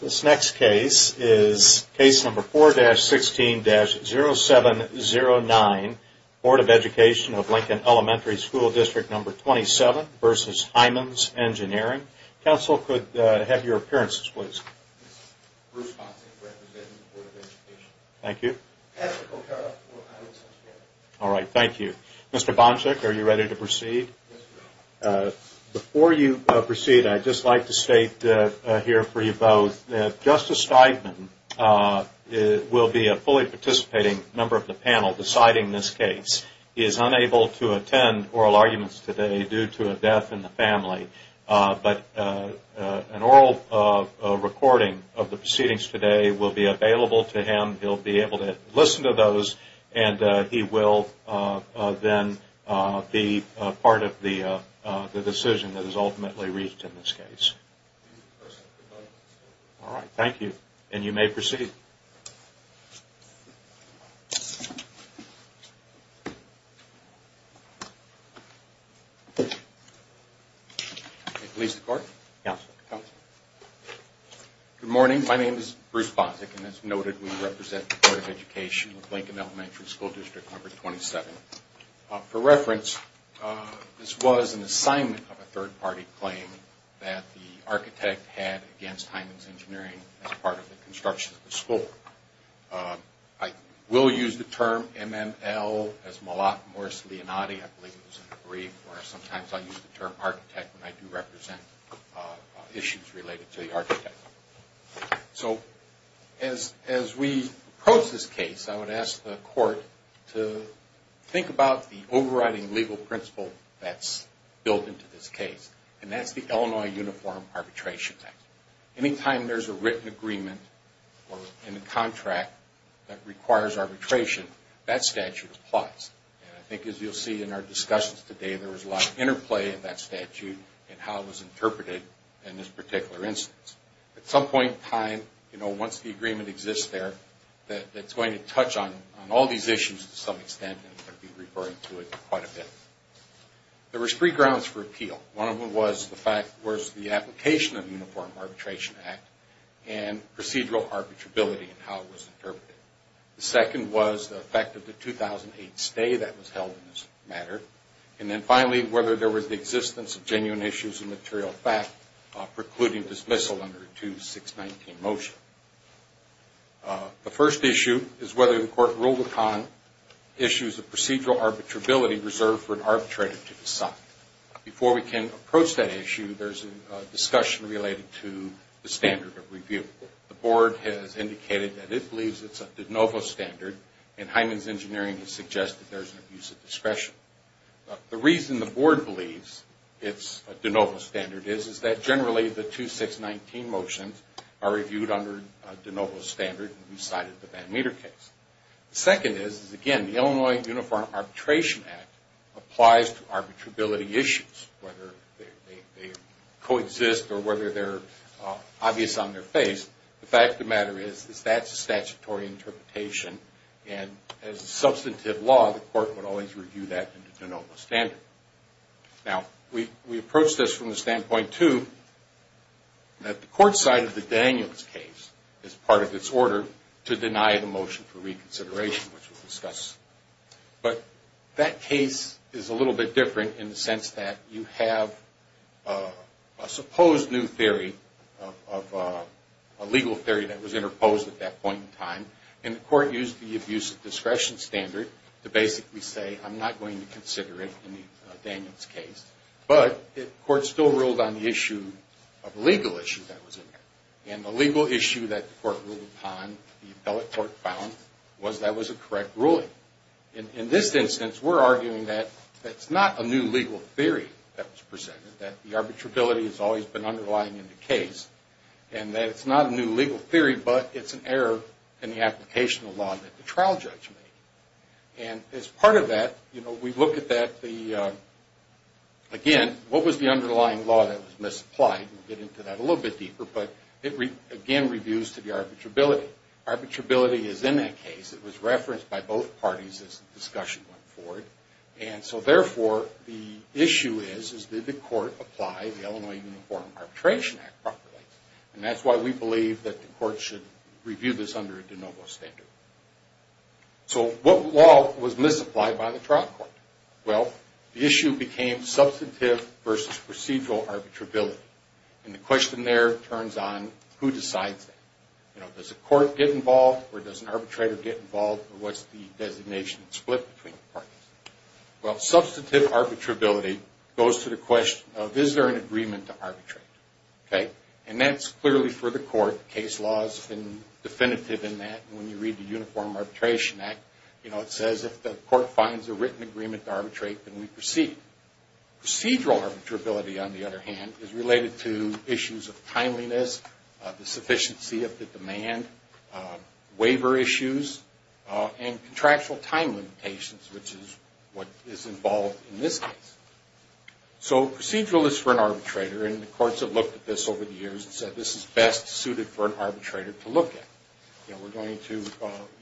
This next case is case number 4-16-0709, Board of Education of Lincoln Elementary School District 27 v. Hymans Engineering. Counsel, could I have your appearances, please? Bruce Bonczuk, representing the Board of Education. Thank you. Patrick O'Carra, for Hymans Engineering. All right, thank you. Mr. Bonczuk, are you ready to proceed? Yes, sir. Before you proceed, I'd just like to state here for you both that Justice Steigman will be a fully participating member of the panel deciding this case. He is unable to attend oral arguments today due to a death in the family, but an oral recording of the proceedings today will be available to him. He'll be able to listen to those, and he will then be part of the decision that is ultimately reached in this case. All right, thank you. And you may proceed. Good morning, my name is Bruce Bonczuk. As noted, we represent the Board of Education of Lincoln Elementary School District number 27. For reference, this was an assignment of a third-party claim that the architect had against Hymans Engineering as part of the construction of the school. I will use the term MML as Molot-Morris-Leonati. I believe it was in the brief, or sometimes I use the term architect when I do represent issues related to the architect. So, as we approach this case, I would ask the court to think about the overriding legal principle that's built into this case. And that's the Illinois Uniform Arbitration Act. Anytime there's a written agreement or a contract that requires arbitration, that statute applies. And I think as you'll see in our discussions today, there was a lot of interplay in that statute and how it was interpreted in this particular instance. At some point in time, you know, once the agreement exists there, that's going to touch on all these issues to some extent, and I'll be referring to it quite a bit. There were three grounds for appeal. One of them was the fact, was the application of the Uniform Arbitration Act and procedural arbitrability and how it was interpreted. The second was the fact of the 2008 stay that was held in this matter. And then finally, whether there was the existence of genuine issues of material fact precluding dismissal under a 2-619 motion. The first issue is whether the court ruled upon issues of procedural arbitrability reserved for an arbitrator to decide. Before we can approach that issue, there's a discussion related to the standard of review. The board has indicated that it believes it's a de novo standard, and Hyman's Engineering has suggested there's an abuse of discretion. The reason the board believes it's a de novo standard is that generally the 2-619 motions are reviewed under a de novo standard and recited the Van Meter case. Second is, again, the Illinois Uniform Arbitration Act applies to arbitrability issues, whether they coexist or whether they're obvious on their face. The fact of the matter is that's a statutory interpretation, and as a substantive law, the court would always review that under de novo standard. Now, we approach this from the standpoint, too, that the court side of the Daniels case is part of its order to deny the motion for reconsideration, which we'll discuss. But that case is a little bit different in the sense that you have a supposed new theory of a legal theory that was interposed at that point in time, and the court used the abuse of discretion standard to basically say, I'm not going to consider it in the Daniels case. But the court still ruled on the issue of a legal issue that was in there, and the legal issue that the court ruled upon, the appellate court found, was that was a correct ruling. In this instance, we're arguing that that's not a new legal theory that was presented, that the arbitrability has always been underlying in the case, and that it's not a new legal theory, but it's an error in the application of law that the trial judge made. And as part of that, we look at that, again, what was the underlying law that was misapplied? We'll get into that a little bit deeper, but it, again, reviews to the arbitrability. Arbitrability is in that case. It was referenced by both parties as the discussion went forward. And so, therefore, the issue is, is did the court apply the Illinois Uniform Arbitration Act properly? And that's why we believe that the court should review this under de novo standard. So what law was misapplied by the trial court? Well, the issue became substantive versus procedural arbitrability. And the question there turns on, who decides that? Does the court get involved, or does an arbitrator get involved, or what's the designation split between the parties? Well, substantive arbitrability goes to the question of, is there an agreement to arbitrate? Okay? And that's clearly for the court. Case law has been definitive in that. And when you read the Uniform Arbitration Act, you know, it says, if the court finds a written agreement to arbitrate, then we proceed. Procedural arbitrability, on the other hand, is related to issues of timeliness, the sufficiency of the demand, waiver issues, and contractual time limitations, which is what is involved in this case. So procedural is for an arbitrator, and the courts have looked at this over the years and said, this is best suited for an arbitrator to look at. You know, we're going to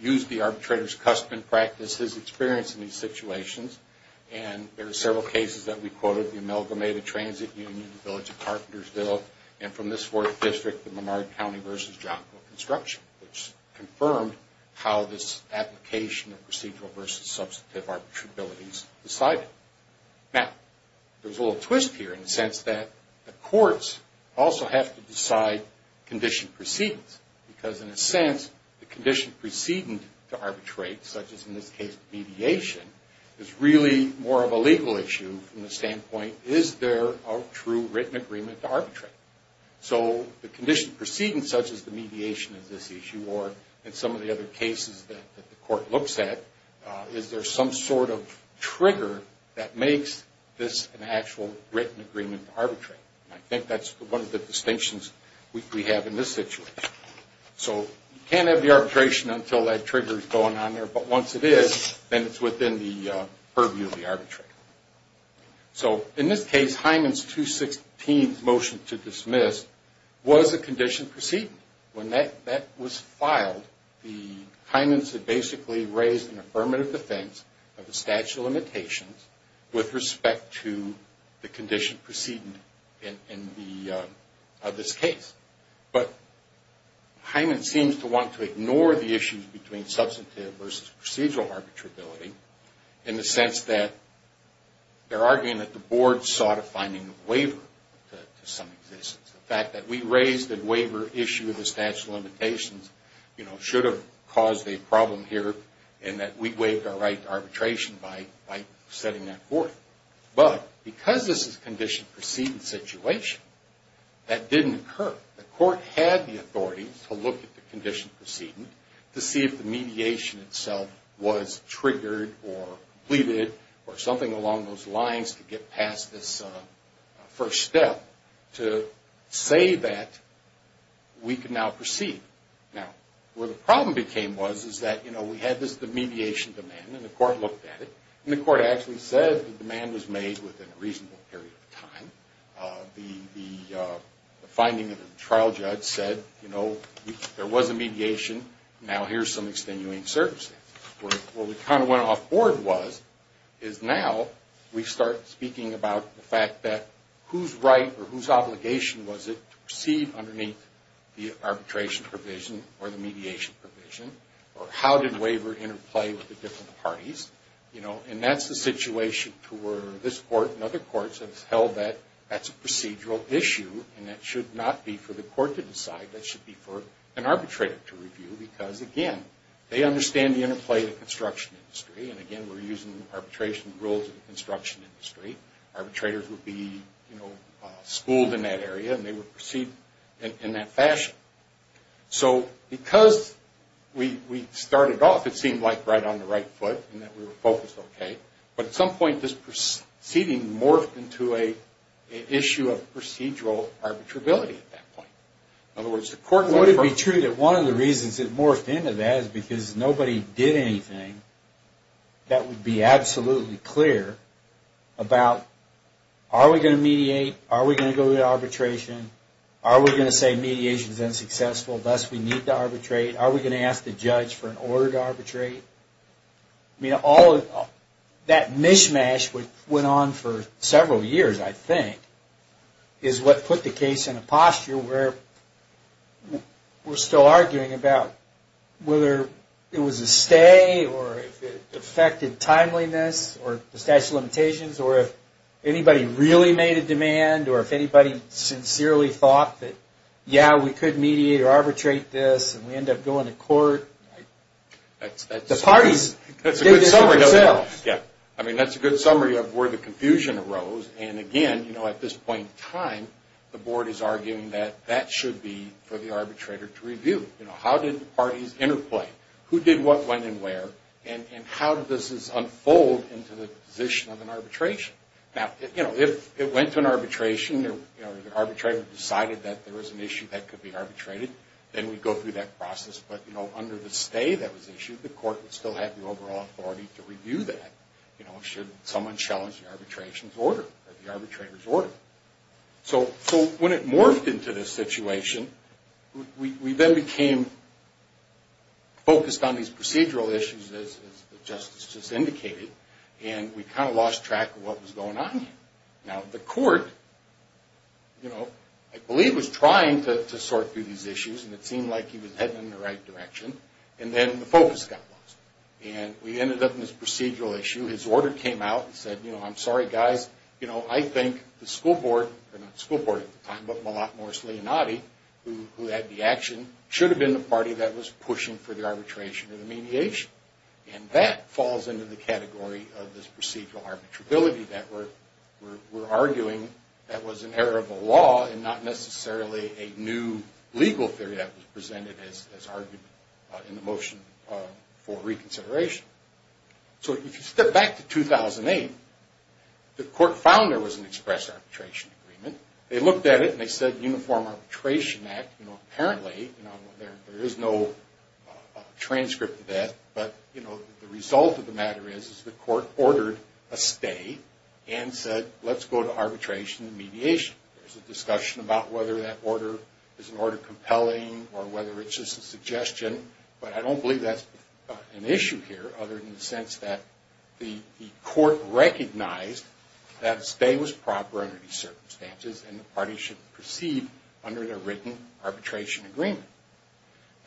use the arbitrator's custom and practice, his experience in these situations, and there are several cases that we quoted, the Amalgamated Transit Union, the Village of Carpentersville, and from this fourth district, the Lamar County v. Johnco Construction, which confirmed how this application of procedural versus substantive arbitrabilities decided. Now, there's a little twist here in the sense that the courts also have to decide condition precedence, because in a sense, the condition precedence to arbitrate, such as in this case mediation, is really more of a legal issue from the standpoint, is there a true written agreement to arbitrate? So the condition precedence, such as the mediation of this issue, or in some of the other cases that the court looks at, is there some sort of trigger that makes this an actual written agreement to arbitrate? And I think that's one of the distinctions we have in this situation. So you can't have the arbitration until that trigger is going on there, but once it is, then it's within the purview of the arbitrator. So in this case, Hyman's 216 motion to dismiss was a condition precedence. When that was filed, Hyman's had basically raised an affirmative defense of the statute of limitations with respect to the condition precedence of this case. But Hyman seems to want to ignore the issues between substantive versus procedural arbitrability in the sense that they're arguing that the board sought a finding of waiver to some existence. The fact that we raised a waiver issue of the statute of limitations should have caused a problem here in that we waived our right to arbitration by setting that forth. But because this is a condition precedence situation, that didn't occur. The court had the authority to look at the condition precedence to see if the mediation itself was triggered or completed or something along those lines to get past this first step to say that we can now proceed. Now, where the problem became was that we had this mediation demand and the court looked at it. And the court actually said the demand was made within a reasonable period of time. The finding of the trial judge said, you know, there was a mediation, now here's some extenuating circumstances. What we kind of went off board was, is now we start speaking about the fact that whose right or whose obligation was it to proceed underneath the arbitration provision or the mediation provision? Or how did waiver interplay with the different parties? And that's the situation to where this court and other courts have held that that's a procedural issue and that should not be for the court to decide, that should be for an arbitrator to review. Because, again, they understand the interplay of the construction industry and, again, we're using arbitration rules in the construction industry. Arbitrators would be, you know, schooled in that area and they would proceed in that fashion. So because we started off, it seemed like, right on the right foot and that we were focused okay, but at some point this proceeding morphed into an issue of procedural arbitrability at that point. In other words, the court... Would it be true that one of the reasons it morphed into that is because nobody did anything that would be absolutely clear about are we going to mediate? Are we going to go to arbitration? Are we going to say mediation is unsuccessful, thus we need to arbitrate? Are we going to ask the judge for an order to arbitrate? I mean, all of that mishmash which went on for several years, I think, is what put the case in a posture where we're still arguing about whether it was a stay or if it affected timeliness or the statute of limitations or if anybody really made a demand or if anybody sincerely thought that, yeah, we could mediate or arbitrate this and we end up going to court. The parties did this themselves. I mean, that's a good summary of where the confusion arose and, again, at this point in time, the board is arguing that that should be for the arbitrator to review. How did the parties interplay? Who did what, when, and where? And how did this unfold into the position of an arbitration? Now, if it went to an arbitration or the arbitrator decided that there was an issue that could be arbitrated, then we'd go through that process, but under the stay that was issued, the court would still have the overall authority to review that, you know, should someone challenge the arbitration's order or the arbitrator's order. So when it morphed into this situation, we then became focused on these procedural issues, as the justice just indicated, and we kind of lost track of what was going on here. Now, the court, you know, I believe was trying to sort through these issues and it seemed like he was heading in the right direction, and then the focus got lost. And we ended up in this procedural issue. His order came out and said, you know, I'm sorry, guys. You know, I think the school board, or not the school board at the time, but Malak Morris-Leonati, who had the action, should have been the party that was pushing for the arbitration or the mediation. And that falls into the category of this procedural arbitrability that we're arguing that was an error of the law and not necessarily a new legal theory that was presented as argument in the motion for reconsideration. So if you step back to 2008, the court found there was an express arbitration agreement. They looked at it and they said Uniform Arbitration Act. You know, apparently, you know, there is no transcript of that, but, you know, the result of the matter is the court ordered a stay and said, let's go to arbitration and mediation. There's a discussion about whether that order is an order compelling or whether it's just a suggestion, but I don't believe that's an issue here other than the sense that the court recognized that a stay was proper under these circumstances, and the party should proceed under their written arbitration agreement.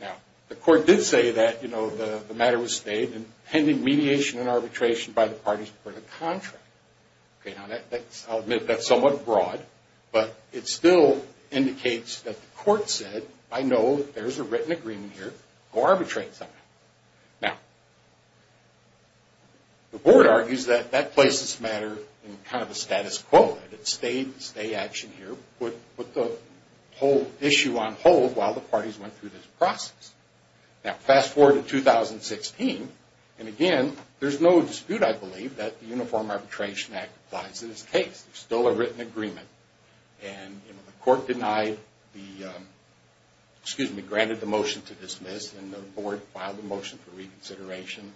Now, the court did say that, you know, the matter was stayed in pending mediation and arbitration by the parties for the contract. Okay, now, I'll admit that's somewhat broad, but it still indicates that the court said, I know there's a written agreement here. Go arbitrate something. Now, the board argues that that places the matter in kind of a status quo. It's a stay action here. Put the whole issue on hold while the parties went through this process. Now, fast forward to 2016, and again, there's no dispute, I believe, that the Uniform Arbitration Act applies in this case. There's still a written agreement, and the court denied the, excuse me, granted the motion to dismiss, and the board filed a motion for reconsideration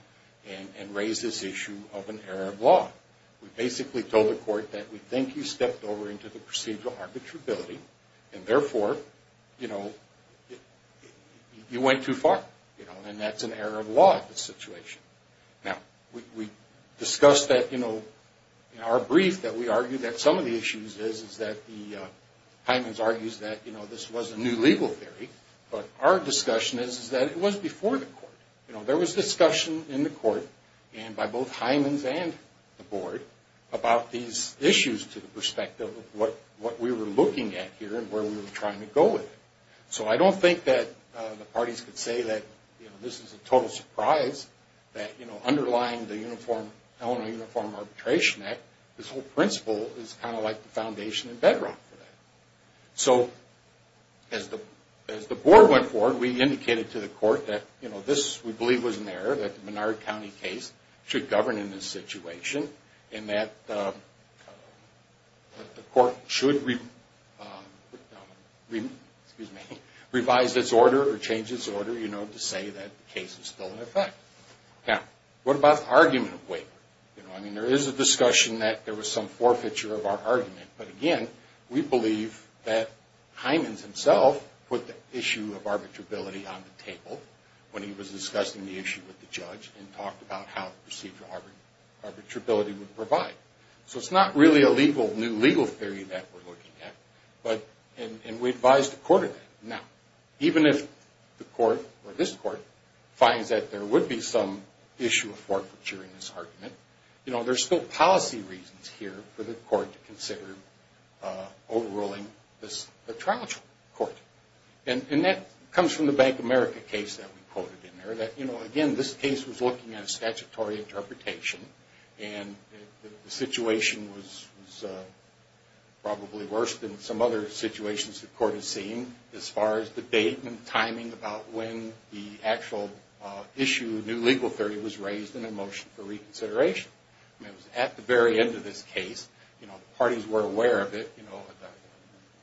and raised this issue of an error of law. We basically told the court that we think you stepped over into the procedural arbitrability, and therefore, you know, you went too far, you know, and that's an error of law in this situation. Now, we discussed that, you know, in our brief that we argued that some of the issues is that the Hyman's argues that, you know, this was a new legal theory, but our discussion is that it was before the court. You know, there was discussion in the court and by both Hyman's and the board about these issues to the perspective of what we were looking at here and where we were trying to go with it. So, I don't think that the parties could say that, you know, this is a total surprise that, you know, underlying the uniform, Illinois Uniform Arbitration Act, this whole principle is kind of like the foundation and bedrock for that. So, as the board went forward, we indicated to the court that, you know, this, we believe, was an error, that the Menard County case should govern in this situation and that the court should revise its order or change its order, you know, to say that the case is still in effect. Now, what about the argument of waiver? You know, I mean, there is a discussion that there was some forfeiture of our argument, but again, we believe that Hyman's himself put the issue of arbitrability on the table when he was discussing the issue with the judge and talked about how procedural arbitrability would provide. So, it's not really a legal, new legal theory that we're looking at, but, and we advised the court of that. Now, even if the court, or this court, finds that there would be some issue of forfeiture in this argument, you know, there's still policy reasons here for the court to consider overruling this, the trial court, and that comes from the Bank of America case that we quoted in there. You know, again, this case was looking at a statutory interpretation and the situation was probably worse than some other situations the court has seen as far as the date and timing about when the actual issue, new legal theory, was raised in a motion for reconsideration. I mean, it was at the very end of this case, you know, the parties were aware of it, you know,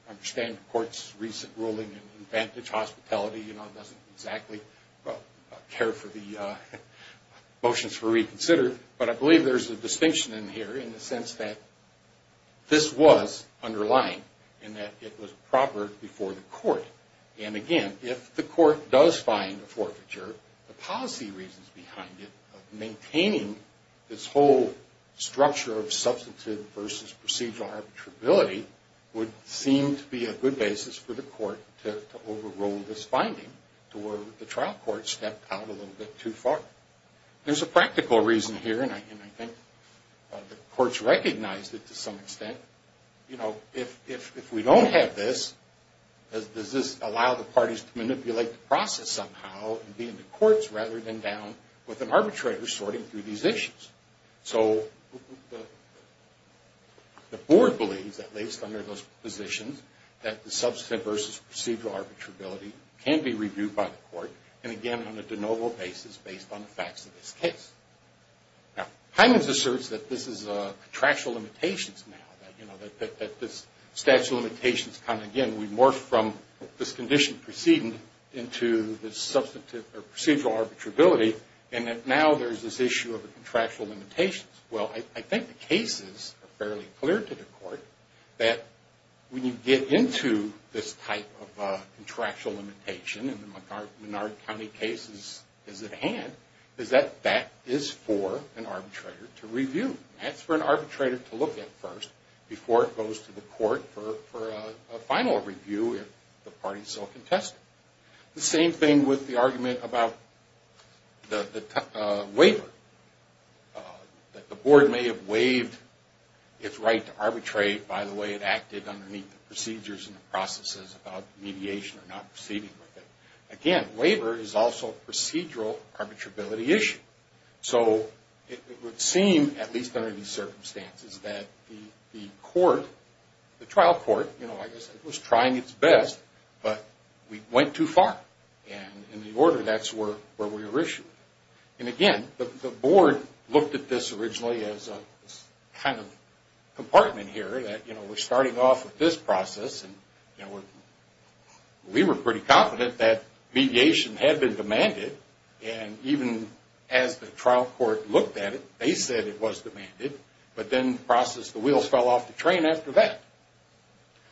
understand the court's recent ruling and advantage hospitality, you know, doesn't exactly care for the motions for reconsider, but I believe there's a distinction in here in the sense that this was underlying and that it was proper before the court. And again, if the court does find a forfeiture, the policy reasons behind it of maintaining this whole structure of substantive versus procedural arbitrability would seem to be a good basis for the court to overrule this finding to where the trial court stepped out a little bit too far. There's a practical reason here and I think the courts recognized it to some extent. You know, if we don't have this, does this allow the parties to manipulate the process somehow and be in the courts rather than down with an arbitrator sorting through these issues? So the board believes, at least under those positions, that the substantive versus procedural arbitrability can be reviewed by the court and again on a de novo basis based on the facts of this case. Now, Hyman's asserts that this is contractual limitations now, you know, that this statute of limitations kind of, again, we morphed from this condition preceding into this substantive or procedural arbitrability and now there's this issue of contractual limitations. Well, I think the cases are fairly clear to the court that when you get into this type of contractual limitation and the Menard County case is at hand, is that that is for an arbitrator to review. That's for an arbitrator to look at first before it goes to the court for a final review if the party is so contested. The same thing with the argument about the waiver. That the board may have waived its right to arbitrate by the way it acted underneath the procedures and the processes of mediation or not proceeding with it. Again, waiver is also a procedural arbitrability issue. So it would seem, at least under these circumstances, that the court, the board, went too far. And in the order that's where we were issued. And again, the board looked at this originally as a kind of compartment here that, you know, we're starting off with this process and we were pretty confident that mediation had been demanded and even as the trial court looked at it, they said it was demanded. But then the process, the wheels fell off the train after that.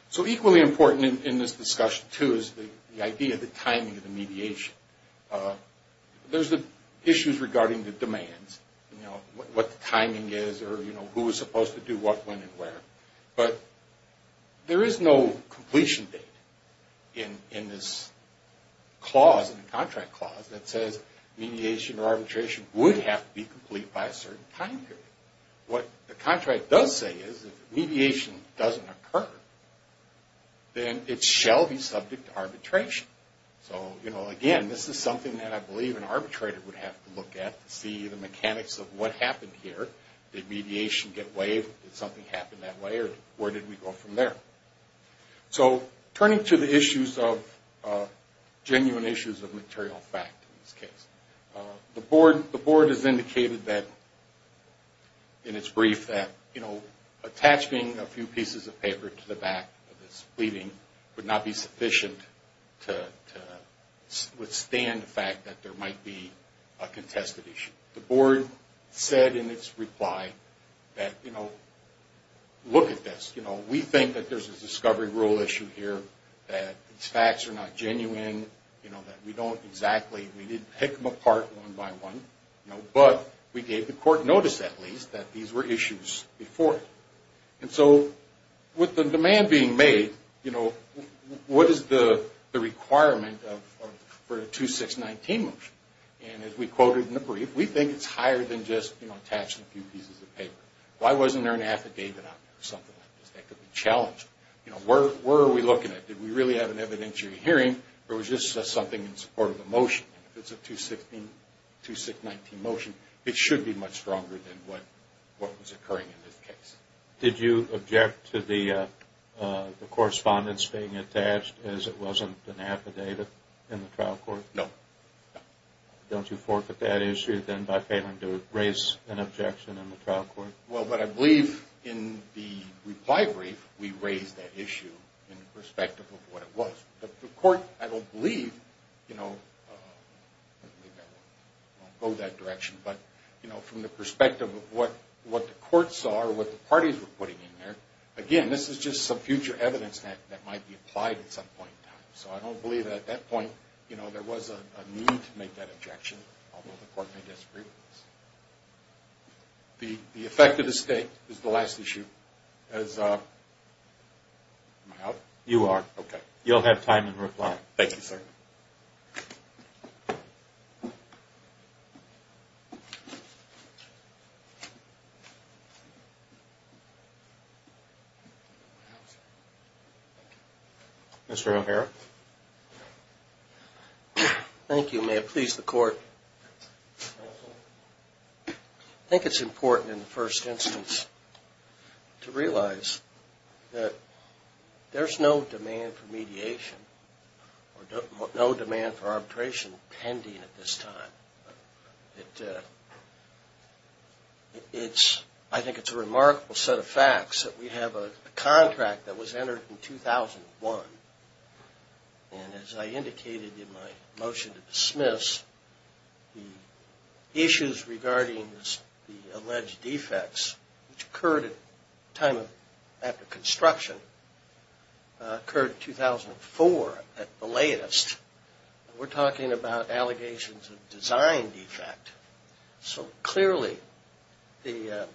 So equally important in this discussion too is the idea of the timing of the mediation. There's the issues regarding the demands, you know, what the timing is or, you know, who is supposed to do what, when, and where. But there is no completion date in this clause, in the contract clause, that says mediation or arbitration would have to be complete by a certain time period. What the contract does say is if mediation doesn't occur, then it shall be subject to arbitration. So, you know, again, this is something that I believe an arbitrator would have to look at to see the mechanics of what happened here. Did mediation get waived? Did something happen that way? Or where did we go from there? So turning to the issues of, genuine issues of material fact in this case. The board has indicated that, in its brief, that, you know, attaching a few pieces of paper to the back of this pleading would not be sufficient to withstand the fact that there might be a contested issue. The board said in its reply that, you know, look at this. You know, we think that there's a discovery rule issue here, that these facts are not genuine, you know, that we don't exactly, we didn't pick them apart one by one, you know, but we gave the court notice at least that these were issues before. And so with the demand being made, you know, what is the requirement for a 2619 motion? And as we quoted in the brief, we think it's higher than just, you know, attaching a few pieces of paper. Why wasn't there an affidavit out there or something like that that could be challenged? You know, where are we looking at? Did we really have an evidentiary hearing or was this just something in support of the motion? If it's a 2619 motion, it should be much stronger than what was occurring in this case. Did you object to the correspondence being attached as it wasn't an affidavit in the trial court? No. No. Don't you forfeit that issue then by failing to raise an objection in the trial court? Well, but I believe in the reply brief we raised that issue in respect of what it was. The court, I don't believe, you know, I won't go that direction, but, you know, from the perspective of what the courts saw or what the parties were putting in there, again, this is just some future evidence that might be applied at some point in time. So I don't believe that at that point, you know, there was a need to make that objection, although the court may disagree with this. The effect of the state is the last issue. Am I out? You are. Okay. You'll have time in reply. Thank you, sir. Mr. O'Hara. Thank you. May it please the court. I think it's important in the first instance to realize that there's no demand for mediation or no demand for arbitration pending at this time. I think it's a remarkable set of facts that we have a contract that was entered in 2001, and as I indicated in my motion to dismiss, the issues regarding the alleged defects, which occurred at a time after construction occurred in 2004 at the latest. We're talking about allegations of design defect. So clearly the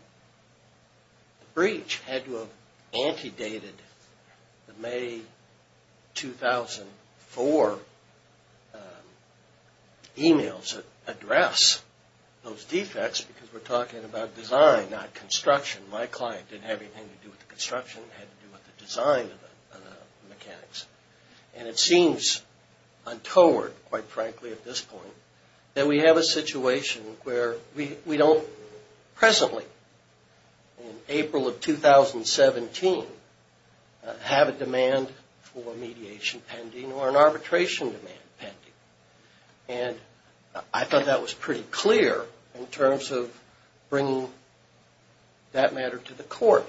breach had to have antedated the May 2004 emails that there were alleged defects because we're talking about design, not construction. My client didn't have anything to do with the construction. It had to do with the design of the mechanics. And it seems untoward, quite frankly, at this point, that we have a situation where we don't presently, in April of 2017, have a demand for mediation pending or an arbitration demand pending. And I thought that was pretty clear in terms of bringing that matter to the court.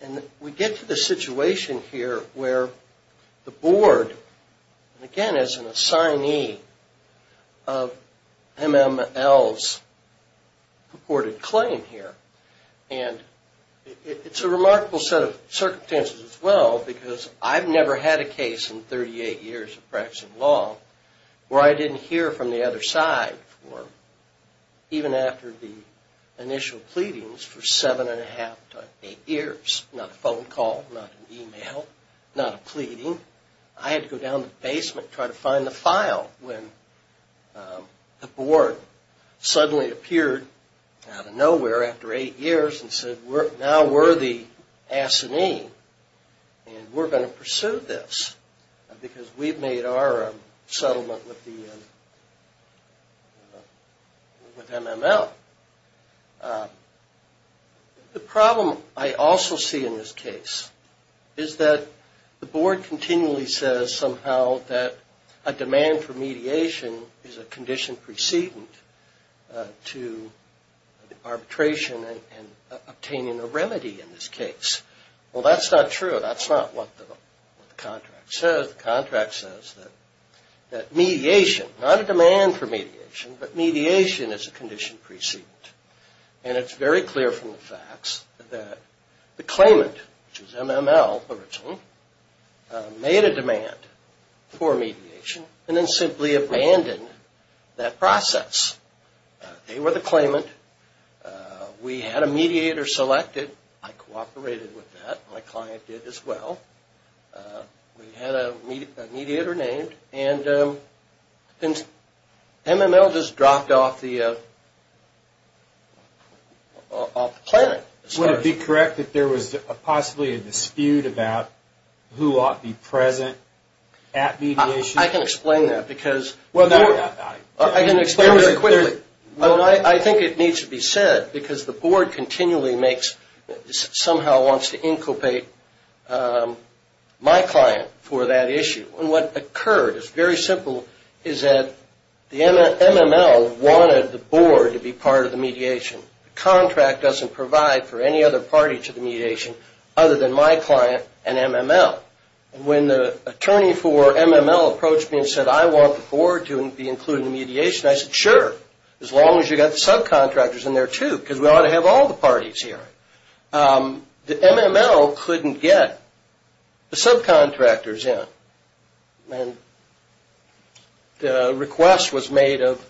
And we get to the situation here where the board, again as an assignee of MML's purported claim here, and it's a remarkable set of circumstances as well because I've never had a case in 38 years of practicing law where I didn't hear from the other side for, even after the initial pleadings, for seven and a half to eight years. Not a phone call, not an email, not a pleading. I had to go down to the basement and try to find the file when the board suddenly appeared out of nowhere after eight years and said, now we're the board, and we're going to pursue this because we've made our settlement with MML. The problem I also see in this case is that the board continually says somehow that a demand for mediation is a condition precedent to the arbitration and obtaining a remedy in this case. Well, that's not true. That's not what the contract says. The contract says that mediation, not a demand for mediation, but mediation is a condition precedent. And it's very clear from the facts that the claimant, which was MML originally, made a demand for mediation and then simply abandoned that process. They were the claimant. We had a mediator selected. I cooperated with that. My client did as well. We had a mediator named. And MML just dropped off the planet. Would it be correct that there was possibly a dispute about who ought to be present at mediation? I can explain that. I can explain it very quickly. I think it needs to be said because the board continually makes, somehow wants to incubate my client for that issue. And what occurred is very simple, is that MML wanted the board to be part of the mediation. The contract doesn't provide for any other party to the mediation other than my client and MML. When the attorney for MML approached me and said, I want the board to be included in the mediation, I said, sure. As long as you've got the subcontractors in there, too. Because we ought to have all the parties here. MML couldn't get the subcontractors in. The request was made of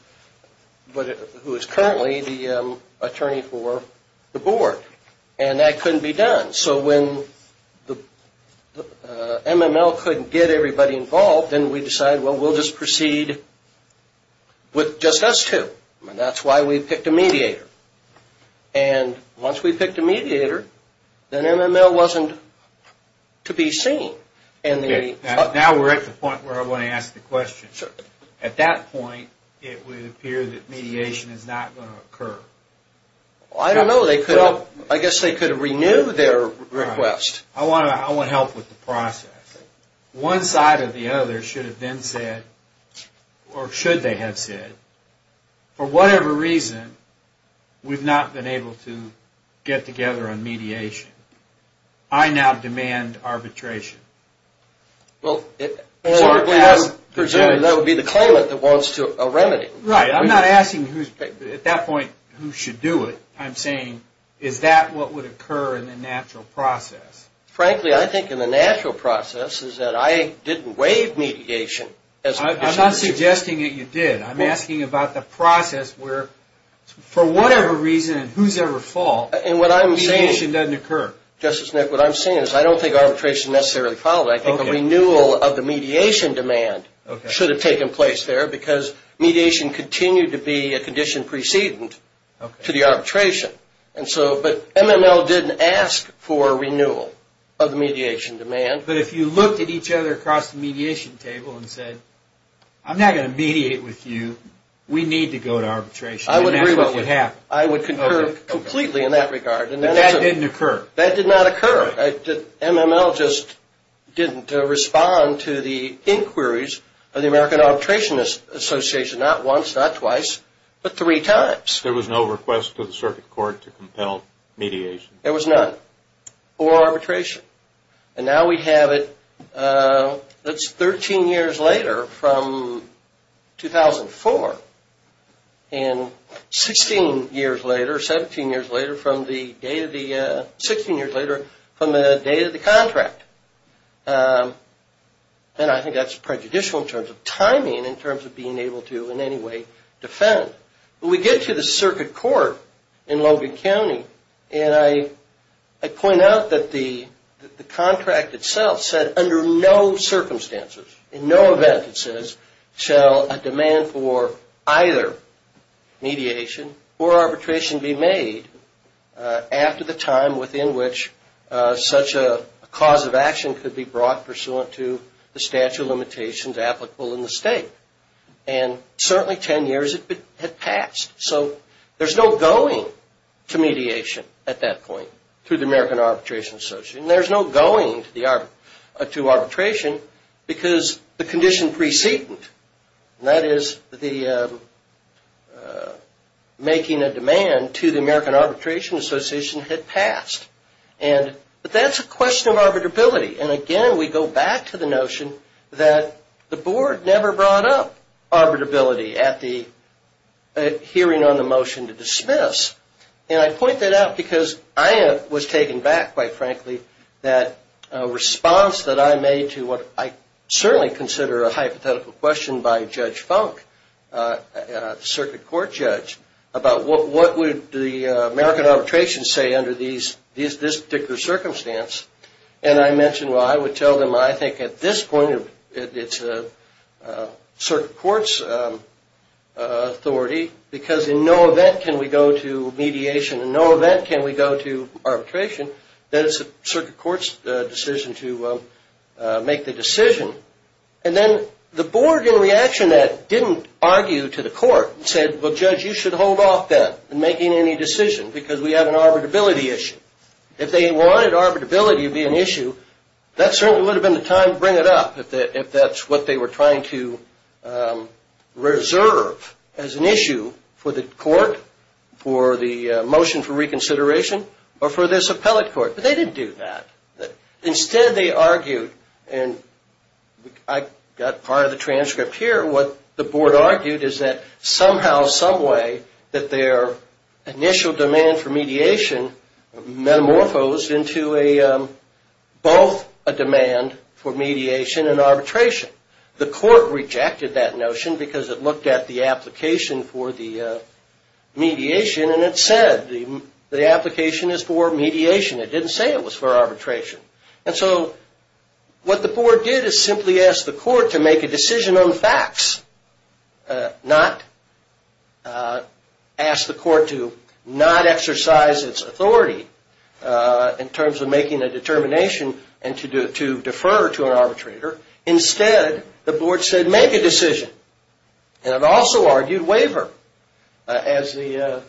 who is currently the attorney for the board. And that couldn't be done. So when MML couldn't get everybody involved, then we decided, we'll just proceed with just us two. That's why we picked a mediator. Once we picked a mediator, then MML wasn't to be seen. Now we're at the point where I want to ask the question. At that point, it would appear that mediation is not going to occur. I don't know. I guess they could renew their request. I want to help with the process. One side or the other should have then said, or should they have said, for whatever reason, we've not been able to get together on mediation. I now demand arbitration. Well, presumably that would be the claimant that wants to remedy. Right. I'm not asking at that point who should do it. I'm saying, is that what would occur in the natural process? Frankly, I think in the natural process is that I didn't waive mediation. I'm not suggesting that you did. I'm asking about the process where, for whatever reason and whosoever fault, mediation doesn't occur. Justice, what I'm saying is I don't think arbitration necessarily followed. I think a renewal of the mediation demand should have taken place there because mediation continued to be a condition precedent to the arbitration. But MML didn't ask for a renewal of the mediation demand. But if you looked at each other across the mediation table and said, I'm not going to mediate with you. We need to go to arbitration. I would concur completely in that regard. That didn't occur. That did not occur. MML just didn't respond to the inquiries of the American Arbitration Association, not once, not twice, but three times. There was no request to the circuit court to compel mediation. There was none. Or arbitration. And now we have it. That's 13 years later from 2004 and 16 years later, 17 years later from the date of the contract. And I think that's prejudicial in terms of timing, in terms of being able to in any way defend. But we get to the circuit court in Logan County and I point out that the contract itself said under no circumstances, in no event, it says, shall a demand for either mediation or arbitration be made after the time within which such a cause of action could be brought pursuant to the statute of limitations applicable in the state. And certainly 10 years had passed. So there's no going to mediation at that point through the American Arbitration Association. There's no going to arbitration because the condition precedent, and that is the making a demand to the American Arbitration Association, had passed. But that's a question of arbitrability. And again, we go back to the notion that the board never brought up arbitrability at the hearing on the motion to dismiss. And I point that out because I was taken back, quite frankly, that response that I made to what I certainly consider a hypothetical question by Judge Funk, the circuit court judge, about what would the American arbitration say under this particular circumstance. And I mentioned, well, I would tell them I think at this point it's a circuit court's authority because in no event can we go to mediation, in no event can we go to arbitration, that it's a circuit court's decision to make the decision. And then the board, in reaction to that, didn't argue to the court and said, well, Judge, you should hold off then in making any decision because we have an arbitrability issue. If they wanted arbitrability to be an issue, that certainly would have been the time to bring it up if that's what they were trying to reserve as an issue for the court, for the motion for reconsideration, or for this appellate court. But they didn't do that. Instead, they argued, and I got part of the transcript here, what the board argued is that somehow, some way, that their initial demand for mediation metamorphosed into a, both a demand for mediation and arbitration. The court rejected that notion because it looked at the application for the mediation and it said the application is for mediation. It didn't say it was for arbitration. And so what the board did is simply ask the court to make a decision on it. Ask the court to not exercise its authority in terms of making a determination and to defer to an arbitrator. Instead, the board said, make a decision. And it also argued waiver. As the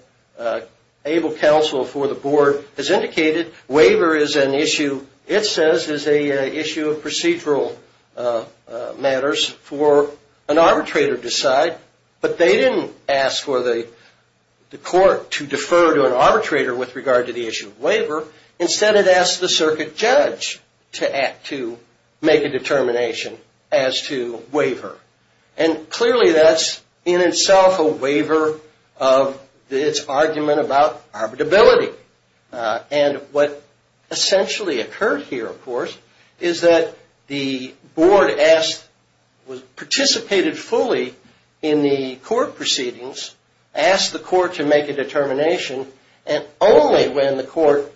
able counsel for the board has indicated, waiver is an issue, it says, is an issue of procedural matters for an arbitrator to decide. But they didn't ask for the court to defer to an arbitrator with regard to the issue of waiver. Instead, it asked the circuit judge to act to make a determination as to waiver. And clearly, that's in itself a waiver of its argument about arbitrability. And what essentially occurred here, of course, is that the board asked, participated fully in the court proceedings, asked the court to make a determination, and only when the court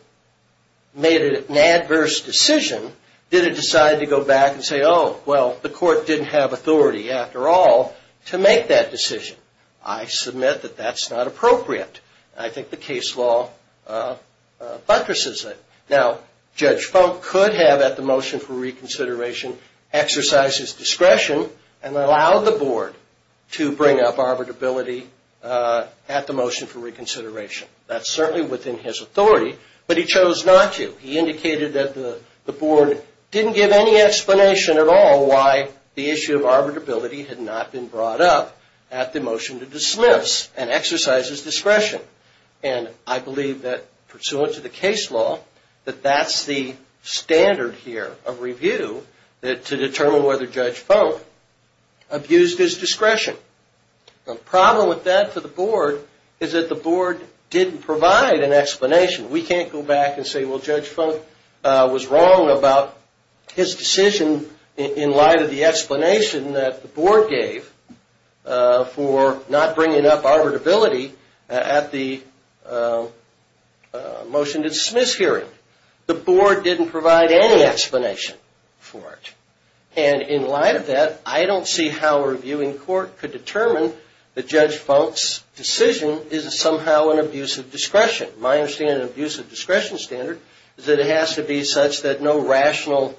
made an adverse decision, did it decide to go back and say, oh, well, the court didn't have authority after all to make that decision. I submit that that's not appropriate. I think the case law buttresses it. Now, Judge Funk could have, at the motion for reconsideration, exercised his discretion and allowed the board to bring up arbitrability at the motion for reconsideration. That's certainly within his authority, but he chose not to. He indicated that the board didn't give any explanation at all why the issue of arbitrability had not been brought up at the motion to dismiss and exercised his discretion. And I believe that pursuant to the case law, that that's the standard here of review to determine whether Judge Funk abused his discretion. The problem with that for the board is that the board didn't provide an explanation. We can't go back and say, well, Judge Funk was wrong about his decision in light of the explanation that the board provided at the motion to dismiss hearing. The board didn't provide any explanation for it. And in light of that, I don't see how a reviewing court could determine that Judge Funk's decision is somehow an abuse of discretion. My understanding of an abuse of discretion standard is that it has to be such that no rational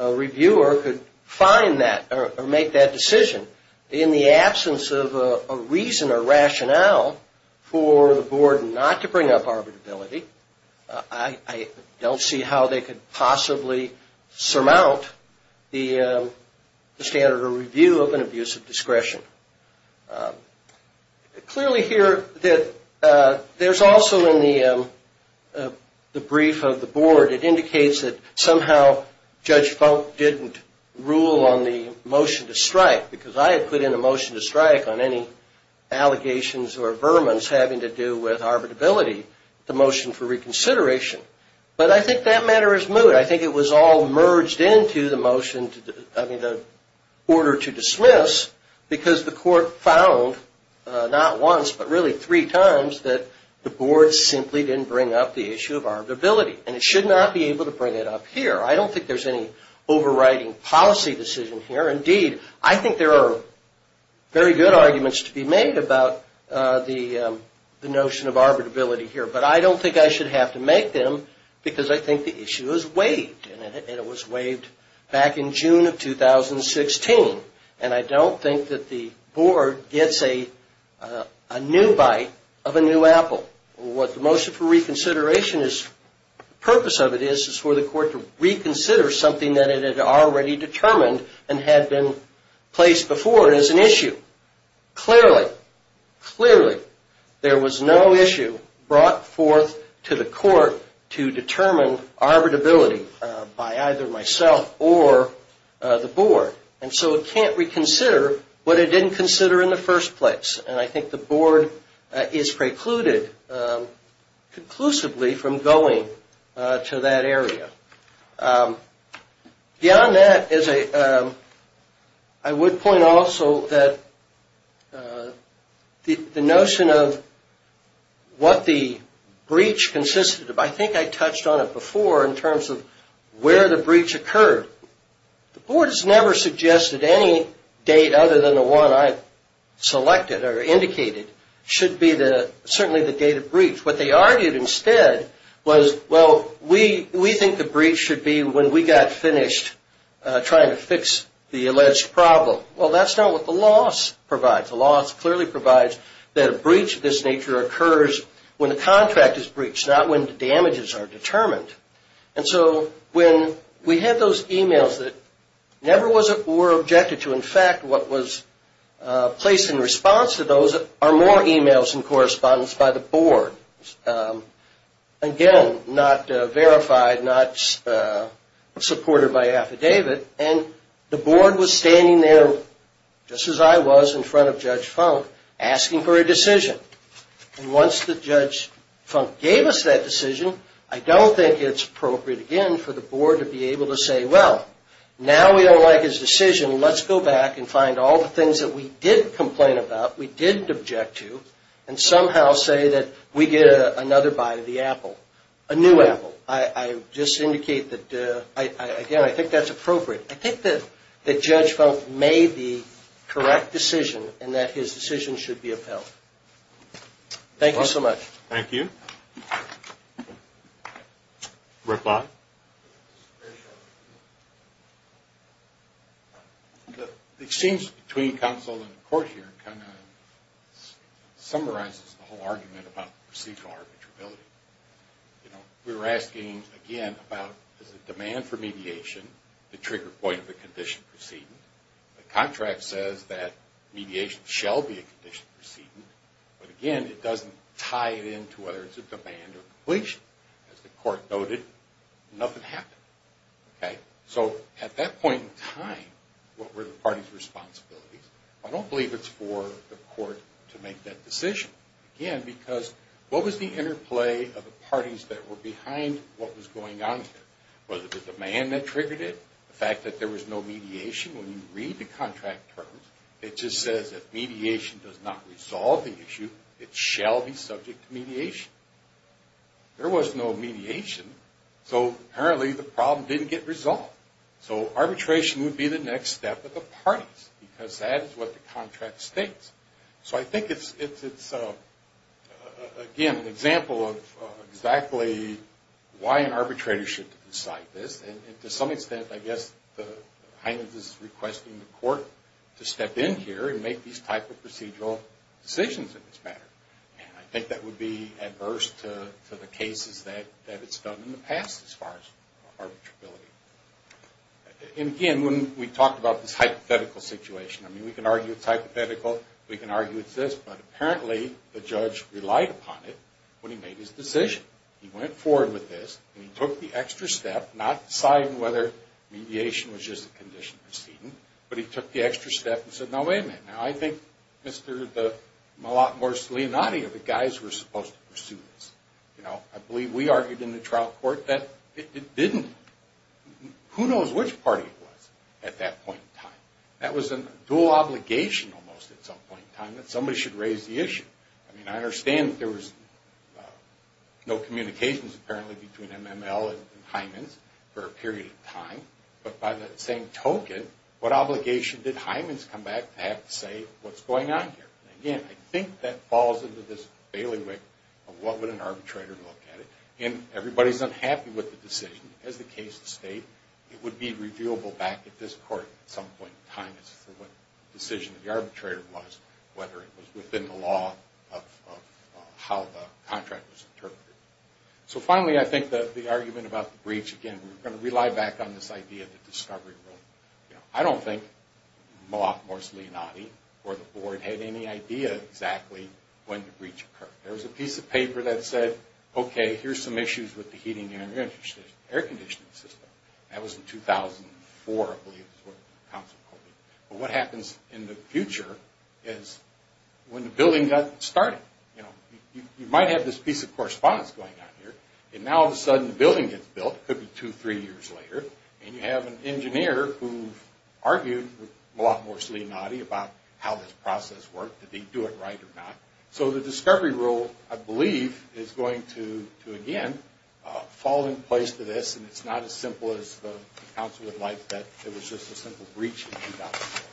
reviewer could find that or make that decision. In the absence of a reason or rationale for the board not to bring up arbitrability, I don't see how they could possibly surmount the standard of review of an abuse of discretion. Clearly here, there's also in the brief of the board, it indicates that somehow Judge Funk didn't rule on the motion to strike because I had put in a motion to strike on any allegations or vermons having to do with arbitrability, the motion for reconsideration. But I think that matter is moot. I think it was all merged into the order to dismiss because the court found not once, but really three times that the board simply didn't bring up the issue of arbitrability. And it should not be able to bring it up here. I don't think there's any overriding policy decision here. Indeed, I think there are very good arguments to be made about the notion of arbitrability here. But I don't think I should have to make them because I think the issue is waived. And it was waived back in June of 2016. And I don't think that the board gets a new bite of a new apple. What the motion for reconsideration is, the purpose of it is for the court to reconsider something that it had already determined and had been placed before as an issue. Clearly, clearly there was no issue brought forth to the court to determine arbitrability by either myself or the board. And so it can't reconsider what it didn't consider in the first place. And I think the board is precluded conclusively from going to that area. Beyond that, I would point also that the notion of what the breach consisted of, I think I touched on it before in terms of where the breach occurred. The board has never suggested any date other than the one I selected or indicated should be certainly the date of breach. What they argued instead was, well, we think the breach should be when we got finished trying to fix the alleged problem. Well, that's not what the loss provides. The loss clearly provides that a breach of this nature occurs when the contract is breached, not when the damages are determined. And so when we had those emails that never were objected to, in fact, what was placed in response to those are more emails and correspondence by the board. Again, not verified, not supported by affidavit. And the board was standing there, just as I was, in front of Judge Funk, asking for a decision. And once Judge Funk gave us that decision, I don't think it's appropriate, again, for the board to be able to say, well, now we don't like his decision. Let's go back and find all the things that we did complain about, we didn't object to, and somehow say that we get another buy of the apple, a new apple. I just indicate that, again, I think that's appropriate. I think that Judge Funk made the correct decision and that his decision should be upheld. Thank you so much. Thank you. Rick Lott? The exchange between counsel and the court here kind of summarizes the whole argument about procedural arbitrability. You know, we were asking, again, about the demand for mediation, the trigger point of the condition proceeding. The contract says that mediation shall be a condition proceeding, but again, it doesn't tie it in to whether it's a demand or completion. As the court noted, nothing happened. Okay? So, at that point in time, what were the parties' responsibilities? I don't believe it's for the court to make that decision. Again, because what was the interplay of the parties that were behind what was going on here? Was it the demand that triggered it? The fact that there was no mediation? When you read the contract terms, it just says that mediation does not resolve the issue, it shall be subject to mediation. There was no mediation. So, apparently, the problem didn't get resolved. So, arbitration would be the next step of the parties, because that is what the contract states. So, I think it's, again, an example of exactly why an arbitrator should decide this, and to some extent, I guess, Hynens is requesting the court to step in here and make these types of procedural decisions in this matter. And I think that would be adverse to the cases that it's done in the past as far as arbitrability. And, again, when we talk about this hypothetical situation, I mean, we can argue it's hypothetical, we can argue it's this, but apparently, the judge relied upon it when he made his decision. He went forward with this, and he took the extra step, but he took the extra step and said, no, wait a minute. Now, I think, Mr. Malakmors, Leonati, are the guys who are supposed to pursue this. You know, I believe we argued in the trial court that it didn't. Who knows which party it was at that point in time? That was a dual obligation almost at some point in time that somebody should raise the issue. I mean, I understand that there was no communications, apparently, between MML and Hynens for a period of time, but by that same token, what obligation did Hynens come back to have to say what's going on here? Again, I think that falls into this bailiwick of what would an arbitrator look at it, and everybody's unhappy with the decision. As the case has stated, it would be reviewable back at this court at some point in time as to what decision the arbitrator was, whether it was within the law of how the contract was interpreted. So, finally, I think that the argument about the breach, again, we're going to rely back on this idea of the discovery rule. You know, I don't think Malakmors, Leonati, or the board had any idea exactly when the breach occurred. There was a piece of paper that said, okay, here's some issues with the heating and air conditioning system. That was in 2004, I believe is what the council called it. But what happens in the future is when the building got started, you know, you might have this piece of correspondence going on here, and now all of a sudden the building gets built, it could be two, three years later, and you have an engineer who argued with Malakmors, Leonati, about how this process worked. Did he do it right or not? So, the discovery rule, I believe, is going to, again, fall in place to this, and it's not as simple as the council would like that. It was just a simple breach in 2004.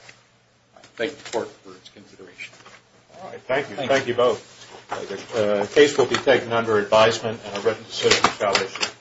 Thank the court for its consideration. All right. Thank you. Thank you both. The case will be taken under advisement, and a written decision shall issue.